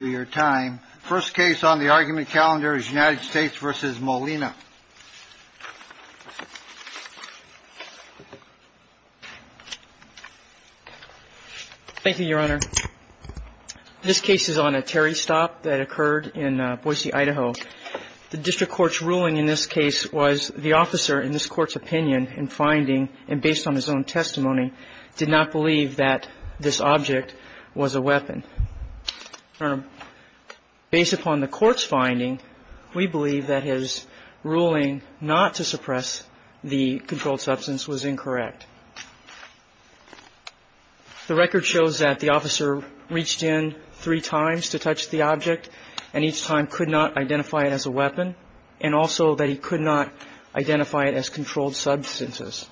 Thank you, Your Honor. This case is on a Terry stop that occurred in Boise, Idaho. The district court's ruling in this case was the officer, in this court's opinion and finding, and based on his own testimony, did not believe that this object was a weapon. Based upon the court's finding, we believe that his ruling not to suppress the controlled substance was incorrect. The record shows that the officer reached in three times to touch the object, and each time could not identify it as a weapon, and also that he could not identify it as controlled substances.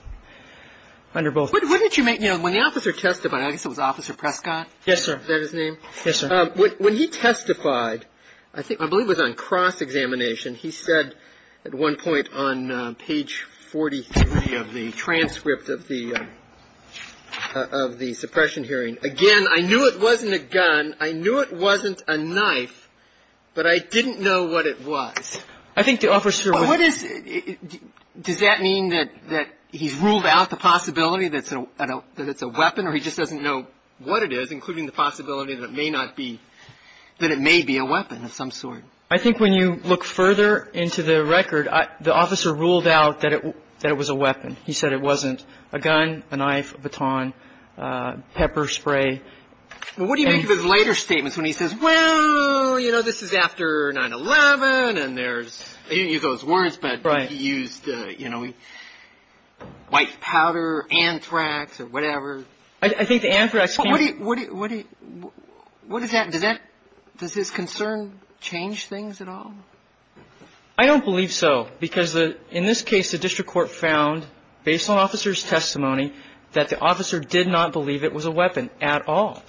The court's ruling in this case was that the officer did not believe that this object was a weapon, and that he could not identify it as a weapon. He ruled out the possibility that it's a weapon, or he just doesn't know what it is, including the possibility that it may be a weapon of some sort. I think when you look further into the record, the officer ruled out that it was a weapon. He said it wasn't a gun, a knife, a baton, pepper spray. Well, what do you make of his later statements when he says, well, you know, this is after 9-11, and there's – he didn't use those words, but he used, you know, white powder, anthrax, or whatever. I think the anthrax – What do you – what does that – does that – does his concern change things at all? I don't believe so, because in this case, the district court found, based on officer's testimony, that the officer did not believe it was a weapon at all.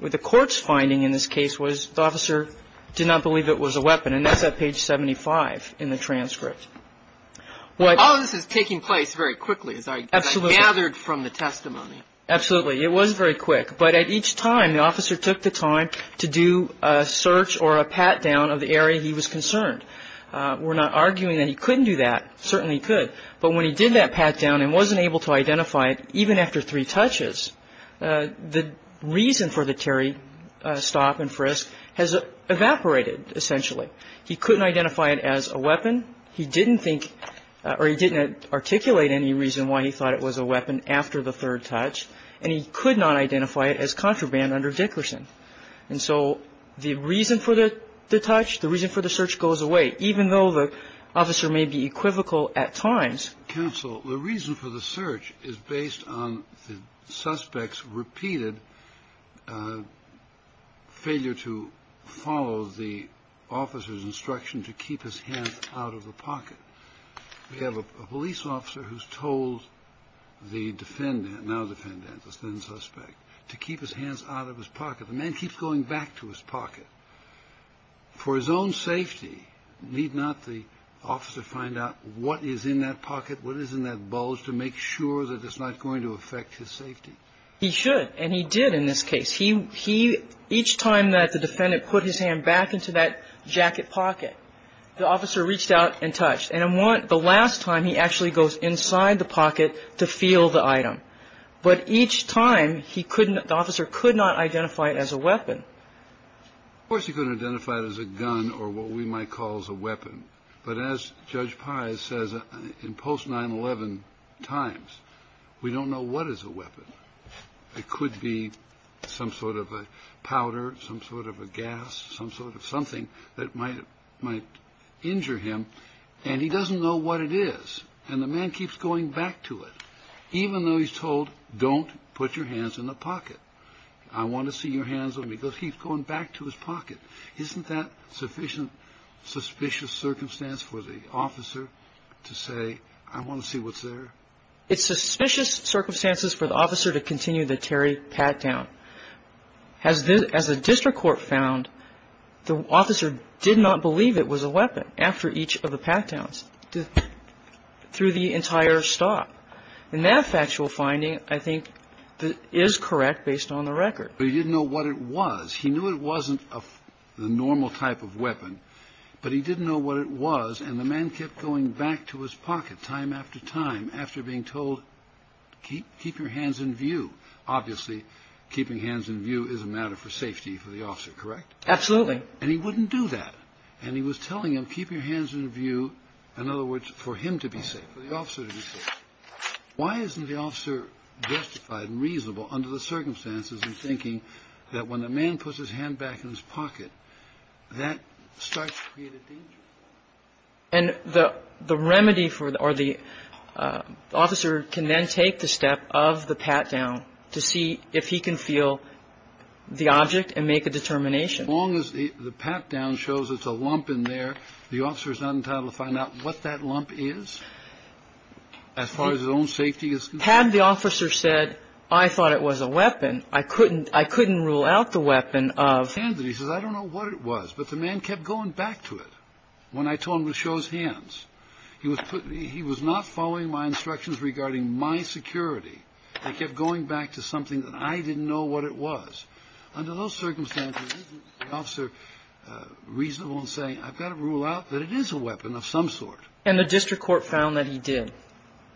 The court's finding in this case was the officer did not believe it was a weapon, and that's at page 75 in the transcript. All of this is taking place very quickly, as I gathered from the testimony. Absolutely. It was very quick. But at each time, the officer took the time to do a search or a pat-down of the area he was concerned. We're not arguing that he couldn't do that. Certainly he could. But when he did that pat-down and wasn't able to identify it, even after three touches, the reason for the Terry stop and frisk has evaporated, essentially. He couldn't identify it as a weapon. He didn't think – or he didn't articulate any reason why he thought it was a weapon after the third touch. And he could not identify it as contraband under Dickerson. And so the reason for the touch, the reason for the search goes away, even though the officer may be equivocal at times. In this counsel, the reason for the search is based on the suspect's repeated failure to follow the officer's instruction to keep his hands out of the pocket. We have a police officer who's told the defendant, now defendant, the then suspect, to keep his hands out of his pocket. The man keeps going back to his pocket. For his own safety, need not the officer find out what is in that pocket, what is in that bulge, to make sure that it's not going to affect his safety? He should. And he did in this case. He – each time that the defendant put his hand back into that jacket pocket, the officer reached out and touched. And the last time, he actually goes inside the pocket to feel the item. But each time, he couldn't – the officer could not identify it as a weapon. Of course, he couldn't identify it as a gun or what we might call as a weapon. But as Judge Pye says in post-9-11 times, we don't know what is a weapon. It could be some sort of a powder, some sort of a gas, some sort of something that might injure him. And he doesn't know what it is. And the man keeps going back to it. Even though he's told, don't put your hands in the pocket. I want to see your hands with me. He keeps going back to his pocket. Isn't that sufficient – suspicious circumstance for the officer to say, I want to see what's there? It's suspicious circumstances for the officer to continue the Terry pat-down. As the district court found, the officer did not believe it was a weapon after each of the pat-downs through the entire stop. And that factual finding, I think, is correct based on the record. But he didn't know what it was. He knew it wasn't the normal type of weapon, but he didn't know what it was. And the man kept going back to his pocket time after time after being told, keep your hands in view. Obviously, keeping hands in view is a matter for safety for the officer, correct? Absolutely. And he wouldn't do that. And he was telling him, keep your hands in view, in other words, for him to be safe, for the officer to be safe. Why isn't the officer justified and reasonable under the circumstances in thinking that when a man puts his hand back in his pocket, that starts to create a danger? And the remedy for – or the officer can then take the step of the pat-down to see if he can feel the object and make a determination. As long as the pat-down shows it's a lump in there, the officer is not entitled to find out what that lump is as far as his own safety is concerned. Had the officer said, I thought it was a weapon, I couldn't – I couldn't rule out the weapon of – He says, I don't know what it was. But the man kept going back to it when I told him to show his hands. He was not following my instructions regarding my security. He kept going back to something that I didn't know what it was. Under those circumstances, isn't the officer reasonable in saying, I've got to rule out that it is a weapon of some sort? And the district court found that he did.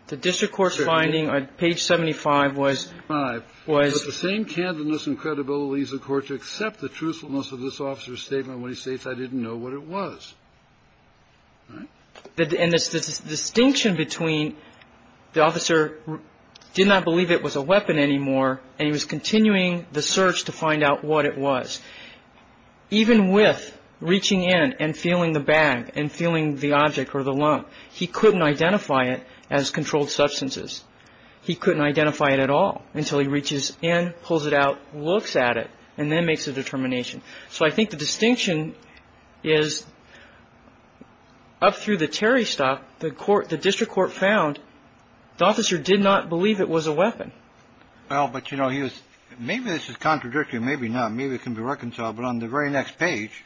The district court's finding on page 75 was – Page 75. Was – The same candidness and credibility of the court to accept the truthfulness of this officer's statement when he states, I didn't know what it was. Right? And this distinction between the officer did not believe it was a weapon anymore and he was continuing the search to find out what it was. Even with reaching in and feeling the bag and feeling the object or the lump, he couldn't identify it as controlled substances. He couldn't identify it at all until he reaches in, pulls it out, looks at it, and then makes a determination. So I think the distinction is up through the Terry stop. The court – the district court found the officer did not believe it was a weapon. Well, but, you know, he was – maybe this is contradictory. Maybe not. Maybe it can be reconciled. But on the very next page,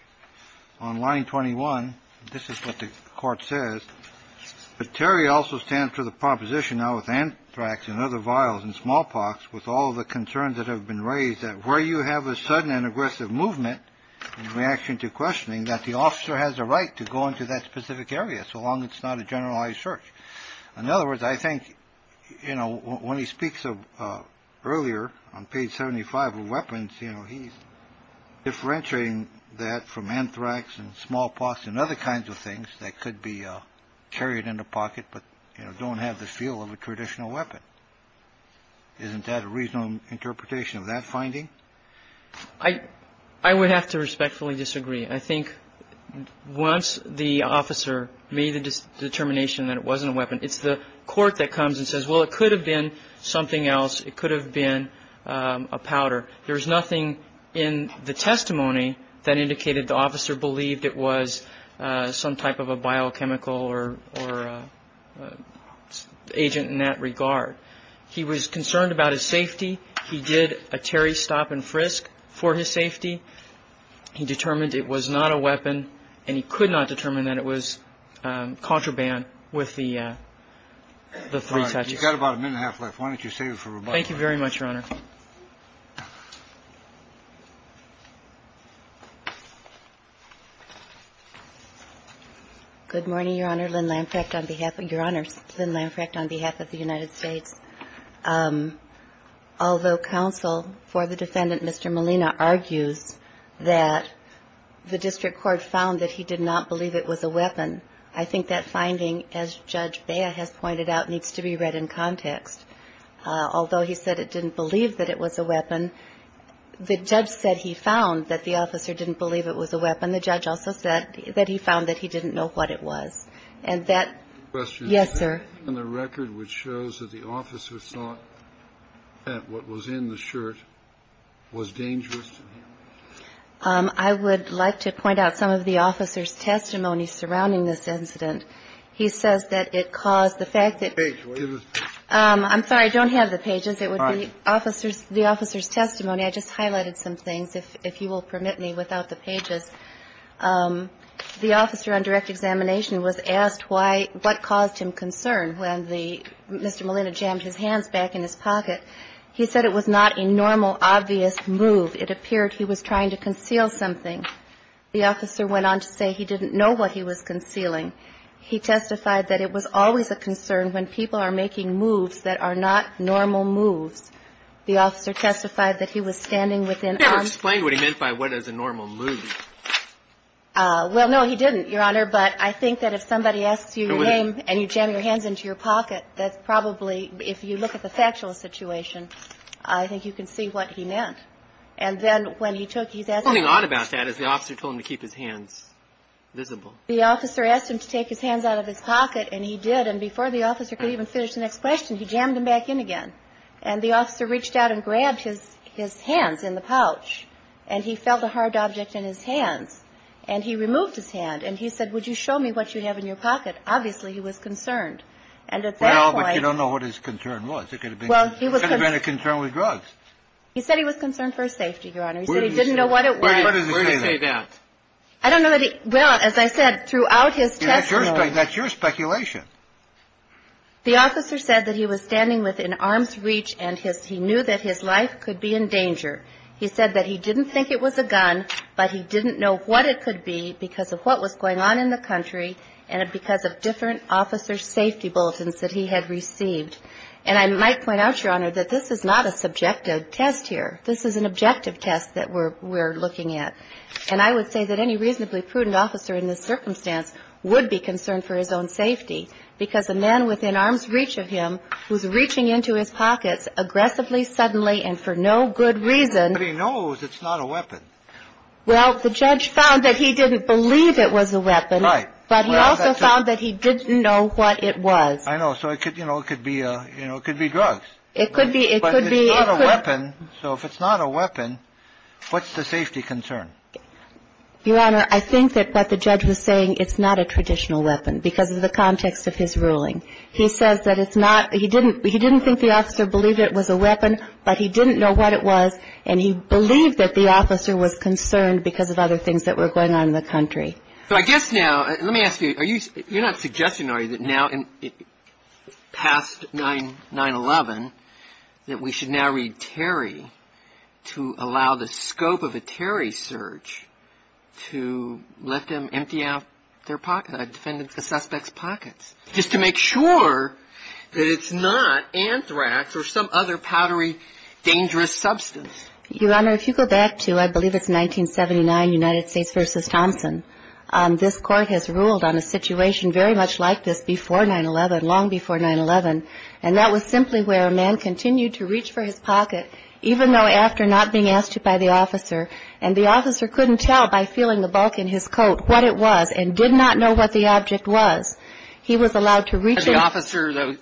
on line 21, this is what the court says. But Terry also stands for the proposition now with anthrax and other vials and smallpox, with all the concerns that have been raised that where you have a sudden and aggressive movement in reaction to questioning, that the officer has a right to go into that specific area so long it's not a generalized search. In other words, I think, you know, when he speaks of earlier on page 75 of weapons, you know, he's differentiating that from anthrax and smallpox and other kinds of things that could be carried in the pocket but, you know, don't have the feel of a traditional weapon. Isn't that a reasonable interpretation of that finding? I would have to respectfully disagree. I think once the officer made the determination that it wasn't a weapon, it's the court that comes and says, well, it could have been something else. It could have been a powder. There's nothing in the testimony that indicated the officer believed it was some type of a biochemical or agent in that regard. He was concerned about his safety. He did a Terry stop and frisk for his safety. He determined it was not a weapon, and he could not determine that it was contraband with the three touches. You've got about a minute and a half left. Why don't you save it for rebuttal? Thank you very much, Your Honor. Good morning, Your Honor. Lynn Lamprecht on behalf of the United States. Although counsel for the defendant, Mr. Molina, argues that the district court found that he did not believe it was a weapon, I think that finding, as Judge Bea has pointed out, needs to be read in context. Although he said it didn't believe that it was a weapon, the judge said he found that the officer didn't believe it was a weapon. The judge also said that he found that he didn't know what it was, and that yes, sir. And the record which shows that the officer thought that what was in the shirt was dangerous. I would like to point out some of the officer's testimony surrounding this incident. He says that it caused the fact that the page was. I'm sorry. I don't have the pages. It would be the officer's testimony. I just highlighted some things, if you will permit me, without the pages. The officer on direct examination was asked what caused him concern when Mr. Molina jammed his hands back in his pocket. He said it was not a normal, obvious move. It appeared he was trying to conceal something. The officer went on to say he didn't know what he was concealing. He testified that it was always a concern when people are making moves that are not normal moves. The officer testified that he was standing within arms. He never explained what he meant by what is a normal move. Well, no, he didn't, Your Honor. But I think that if somebody asks you your name and you jam your hands into your pocket, that's probably, if you look at the factual situation, I think you can see what he meant. And then when he took, he's asking. Something odd about that is the officer told him to keep his hands visible. The officer asked him to take his hands out of his pocket, and he did. And before the officer could even finish the next question, he jammed them back in again. And the officer reached out and grabbed his hands in the pouch, and he felt a hard object in his hands, and he removed his hand. And he said, would you show me what you have in your pocket? Obviously, he was concerned. And at that point. Well, but you don't know what his concern was. It could have been a concern with drugs. He said he was concerned for his safety, Your Honor. He said he didn't know what it was. Where does he say that? I don't know that he. Well, as I said, throughout his testimony. That's your speculation. The officer said that he was standing within arm's reach, and he knew that his life could be in danger. He said that he didn't think it was a gun, but he didn't know what it could be because of what was going on in the country, and because of different officer safety bulletins that he had received. And I might point out, Your Honor, that this is not a subjective test here. This is an objective test that we're looking at. And I would say that any reasonably prudent officer in this circumstance would be concerned for his own safety because a man within arm's reach of him was reaching into his pockets aggressively, suddenly, and for no good reason. But he knows it's not a weapon. Well, the judge found that he didn't believe it was a weapon. Right. But he also found that he didn't know what it was. I know. So it could, you know, it could be, you know, it could be drugs. It could be. It could be. But it's not a weapon. What's the safety concern? Your Honor, I think that what the judge was saying, it's not a traditional weapon because of the context of his ruling. He says that it's not he didn't he didn't think the officer believed it was a weapon, but he didn't know what it was, and he believed that the officer was concerned because of other things that were going on in the country. But I guess now, let me ask you, you're not suggesting, are you, that now, past 9-11, that we should now read Terry to allow the scope of a Terry search to let them empty out their pockets, defend the suspect's pockets, just to make sure that it's not anthrax or some other powdery, dangerous substance? Your Honor, if you go back to, I believe it's 1979, United States v. Thompson, this Court has ruled on a situation very much like this before 9-11, long before 9-11, and that was simply where a man continued to reach for his pocket, even though after not being asked to by the officer, and the officer couldn't tell by feeling the bulk in his coat what it was and did not know what the object was, he was allowed to reach in. And the officer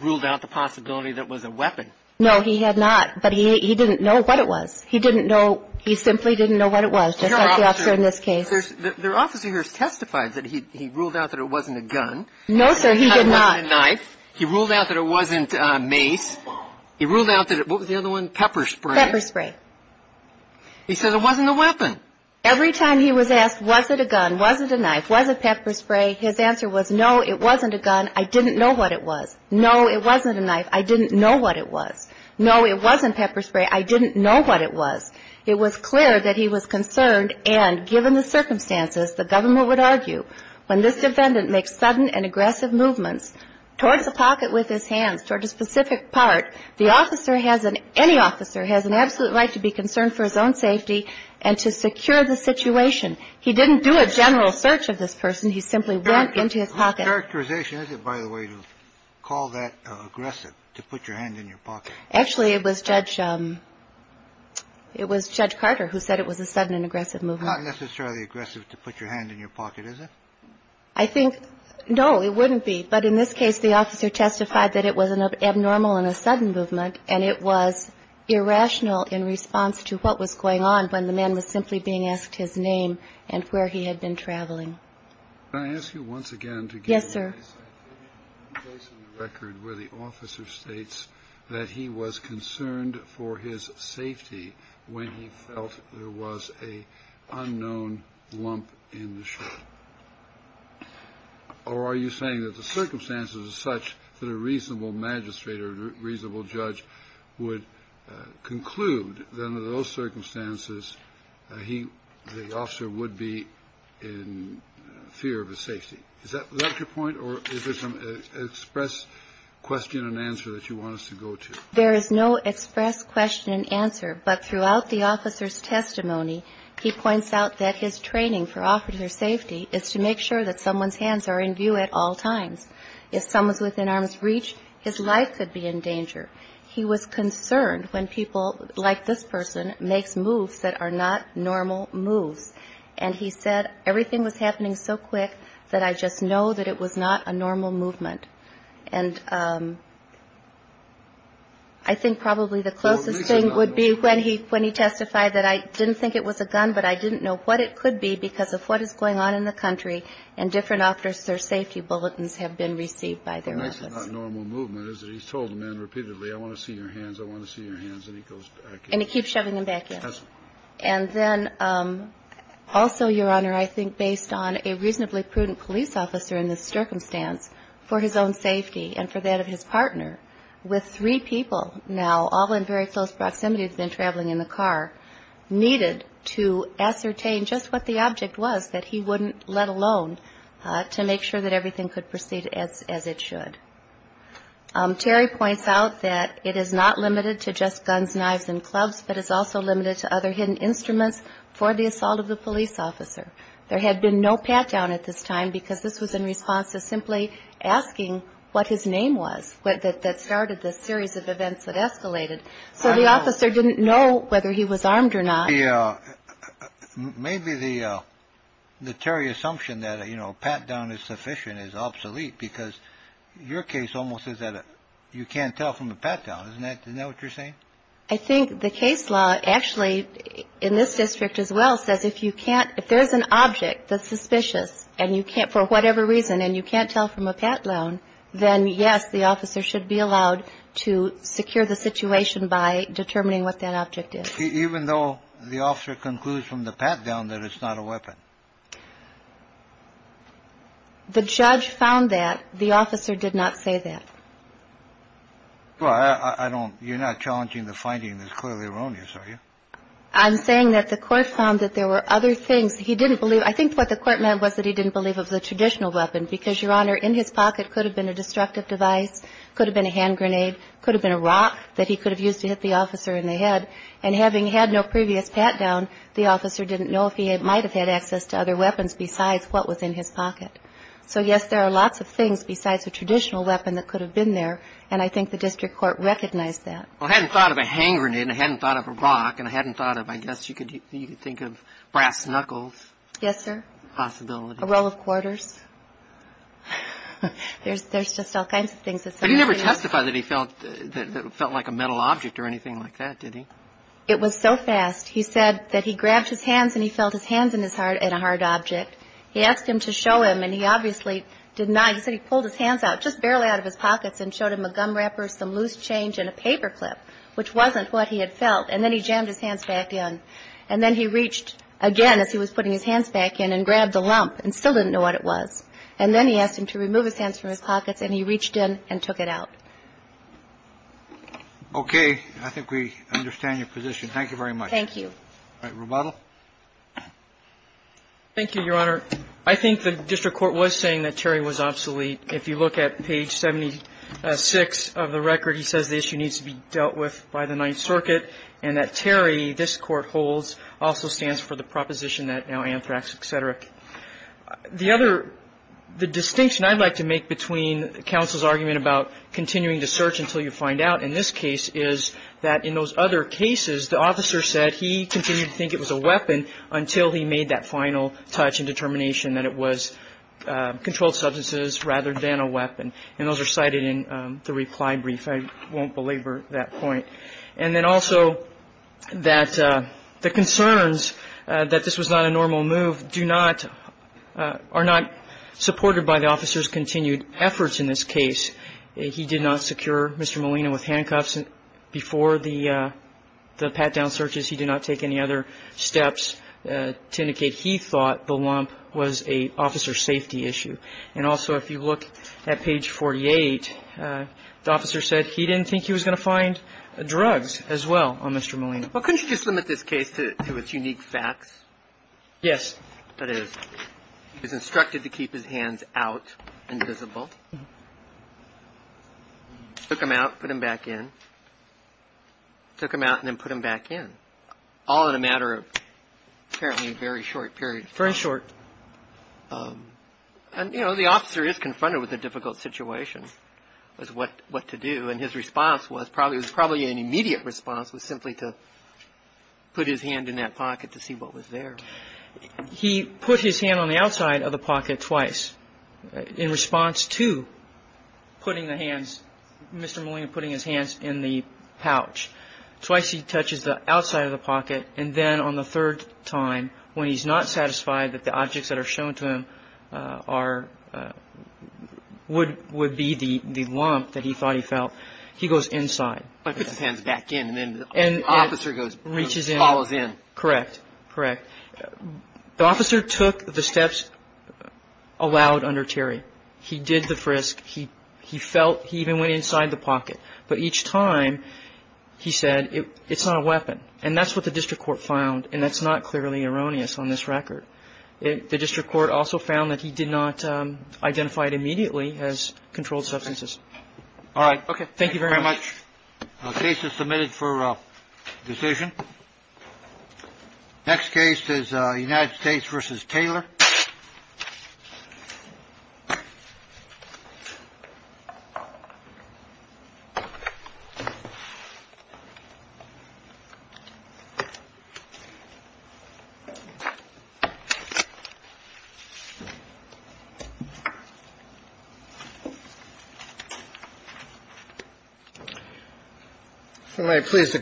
ruled out the possibility that it was a weapon. No, he had not. But he didn't know what it was. He didn't know. He simply didn't know what it was, just like the officer in this case. The officer here testified that he ruled out that it wasn't a gun. No, sir, he did not. He ruled out that it wasn't a knife. He ruled out that it wasn't a mace. He ruled out that it was the other one, pepper spray. Pepper spray. He said it wasn't a weapon. Every time he was asked, was it a gun, was it a knife, was it pepper spray, his answer was, no, it wasn't a gun. I didn't know what it was. No, it wasn't a knife. I didn't know what it was. No, it wasn't pepper spray. I didn't know what it was. It was clear that he was concerned, and given the circumstances, the government would argue, when this defendant makes sudden and aggressive movements towards the pocket with his hands, towards a specific part, the officer has an – any officer has an absolute right to be concerned for his own safety and to secure the situation. He didn't do a general search of this person. He simply went into his pocket. What characterization is it, by the way, to call that aggressive, to put your hand in your pocket? Actually, it was Judge – it was Judge Carter who said it was a sudden and aggressive movement. Not necessarily aggressive to put your hand in your pocket, is it? I think – no, it wouldn't be. But in this case, the officer testified that it was an abnormal and a sudden movement, and it was irrational in response to what was going on when the man was simply being asked his name and where he had been traveling. Can I ask you once again to give – Yes, sir. – a place in the record where the officer states that he was concerned for his safety when he felt there was an unknown lump in the shirt? Or are you saying that the circumstances are such that a reasonable magistrate or a reasonable judge would conclude that under those circumstances, he – the officer would be in fear of his safety? Is that your point? Or is there some express question and answer that you want us to go to? There is no express question and answer, but throughout the officer's testimony, he points out that his training for officer safety is to make sure that someone's hands are in view at all times. If someone's within arm's reach, his life could be in danger. He was concerned when people like this person makes moves that are not normal moves. And he said, everything was happening so quick that I just know that it was not a normal movement. And I think probably the closest thing would be when he testified that I didn't think it was a gun, but I didn't know what it could be because of what is going on in the country and different officer safety bulletins have been received by their office. And that's not normal movement, is it? He's told men repeatedly, I want to see your hands, I want to see your hands, and he goes back in. And he keeps shoving them back in. Yes. And then also, Your Honor, I think based on a reasonably prudent police officer in this circumstance, for his own safety and for that of his partner, with three people now, all in very close proximity to him traveling in the car, needed to ascertain just what the object was that he wouldn't let alone to make sure that everything could proceed as it should. Terry points out that it is not limited to just guns, knives, and clubs, but it's also limited to other hidden instruments for the assault of the police officer. There had been no pat-down at this time because this was in response to simply asking what his name was that started this series of events that escalated. So the officer didn't know whether he was armed or not. Maybe the Terry assumption that a pat-down is sufficient is obsolete because your case almost says that you can't tell from a pat-down. Isn't that what you're saying? I think the case law actually in this district as well says if you can't, if there's an object that's suspicious for whatever reason and you can't tell from a pat-down, then yes, the officer should be allowed to secure the situation by determining what that object is. Even though the officer concludes from the pat-down that it's not a weapon? The judge found that. The officer did not say that. Well, I don't, you're not challenging the finding that's clearly erroneous, are you? I'm saying that the court found that there were other things he didn't believe. I think what the court meant was that he didn't believe of the traditional weapon because, Your Honor, in his pocket could have been a destructive device, could have been a hand grenade, could have been a rock that he could have used to hit the officer in the head, and having had no previous pat-down, the officer didn't know if he might have had access to other weapons besides what was in his pocket. So, yes, there are lots of things besides a traditional weapon that could have been there, and I think the district court recognized that. Well, I hadn't thought of a hand grenade, and I hadn't thought of a rock, and I hadn't thought of, I guess you could think of brass knuckles. Yes, sir. Possibility. A roll of quarters. There's just all kinds of things. But he never testified that he felt like a metal object or anything like that, did he? It was so fast. He said that he grabbed his hands and he felt his hands in a hard object. He asked him to show him, and he obviously did not. He said he pulled his hands out just barely out of his pockets and showed him a gum wrapper, some loose change, and a paper clip, which wasn't what he had felt, and then he jammed his hands back in. And then he asked him to remove his hands from his pockets, and he reached in and took it out. Okay. I think we understand your position. Thank you very much. Thank you. All right. Rebuttal. Thank you, Your Honor. I think the district court was saying that Terry was obsolete. If you look at page 76 of the record, he says the issue needs to be dealt with by the Ninth Circuit and that Terry, this Court holds, also stands for the proposition that now anthrax, et cetera. The distinction I'd like to make between counsel's argument about continuing to search until you find out, in this case, is that in those other cases, the officer said he continued to think it was a weapon until he made that final touch and determination that it was controlled substances rather than a weapon. And those are cited in the reply brief. I won't belabor that point. And then also the concerns that this was not a normal move are not supported by the officer's continued efforts in this case. He did not secure Mr. Molina with handcuffs. Before the pat-down searches, he did not take any other steps to indicate he thought the lump was an officer's safety issue. And also if you look at page 48, the officer said he didn't think he was going to find drugs as well on Mr. Molina. Well, couldn't you just limit this case to its unique facts? Yes. That is, he was instructed to keep his hands out and visible, took them out, put them back in, took them out and then put them back in, all in a matter of apparently a very short period of time. Very short. And, you know, the officer is confronted with a difficult situation as to what to do. And his response was probably an immediate response was simply to put his hand in that pocket to see what was there. He put his hand on the outside of the pocket twice in response to putting the hands, Mr. Molina putting his hands in the pouch. Twice he touches the outside of the pocket. And then on the third time, when he's not satisfied that the objects that are shown to him are would would be the lump that he thought he felt. He goes inside. He puts his hands back in and then the officer goes and reaches in. Correct. Correct. The officer took the steps allowed under Terry. He did the frisk. He he felt he even went inside the pocket. But each time he said it's not a weapon. And that's what the district court found. And that's not clearly erroneous on this record. The district court also found that he did not identify it immediately as controlled substances. All right. OK. Thank you very much. Submitted for decision. Next case is United States versus Taylor. All right. Please. Who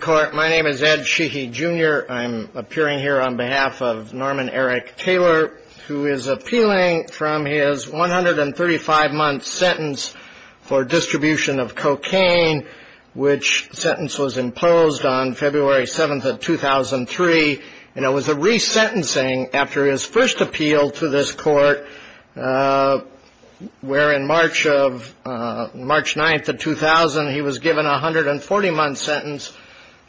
is appealing from his one hundred and thirty five month sentence for distribution of cocaine, which sentence was imposed on February 7th of 2003. And it was a resentencing after his first appeal to this court where in March of March 9th of 2000, he was given one hundred and forty month sentence.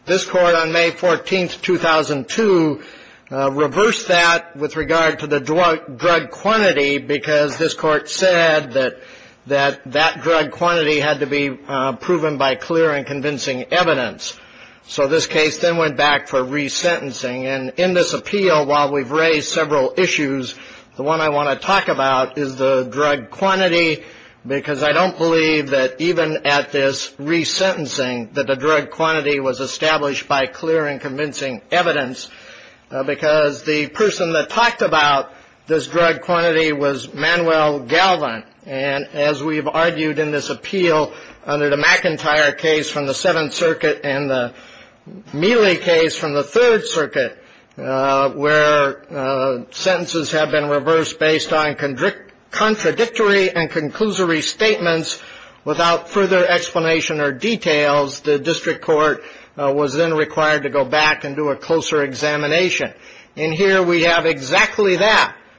This court on May 14th, 2002, reversed that with regard to the drug drug quantity, because this court said that that that drug quantity had to be proven by clear and convincing evidence. So this case then went back for resentencing. And in this appeal, while we've raised several issues, the one I want to talk about is the drug quantity, because I don't believe that even at this resentencing, that the drug quantity was established by clear and convincing evidence, because the person that talked about this drug quantity was Manuel Galvin. And as we've argued in this appeal under the McIntyre case from the Seventh Circuit and the Mealy case from the Third Circuit, where sentences have been reversed based on contradictory and conclusory statements without further explanation or details, the district court was then required to go back and do a closer examination. And here we have exactly that.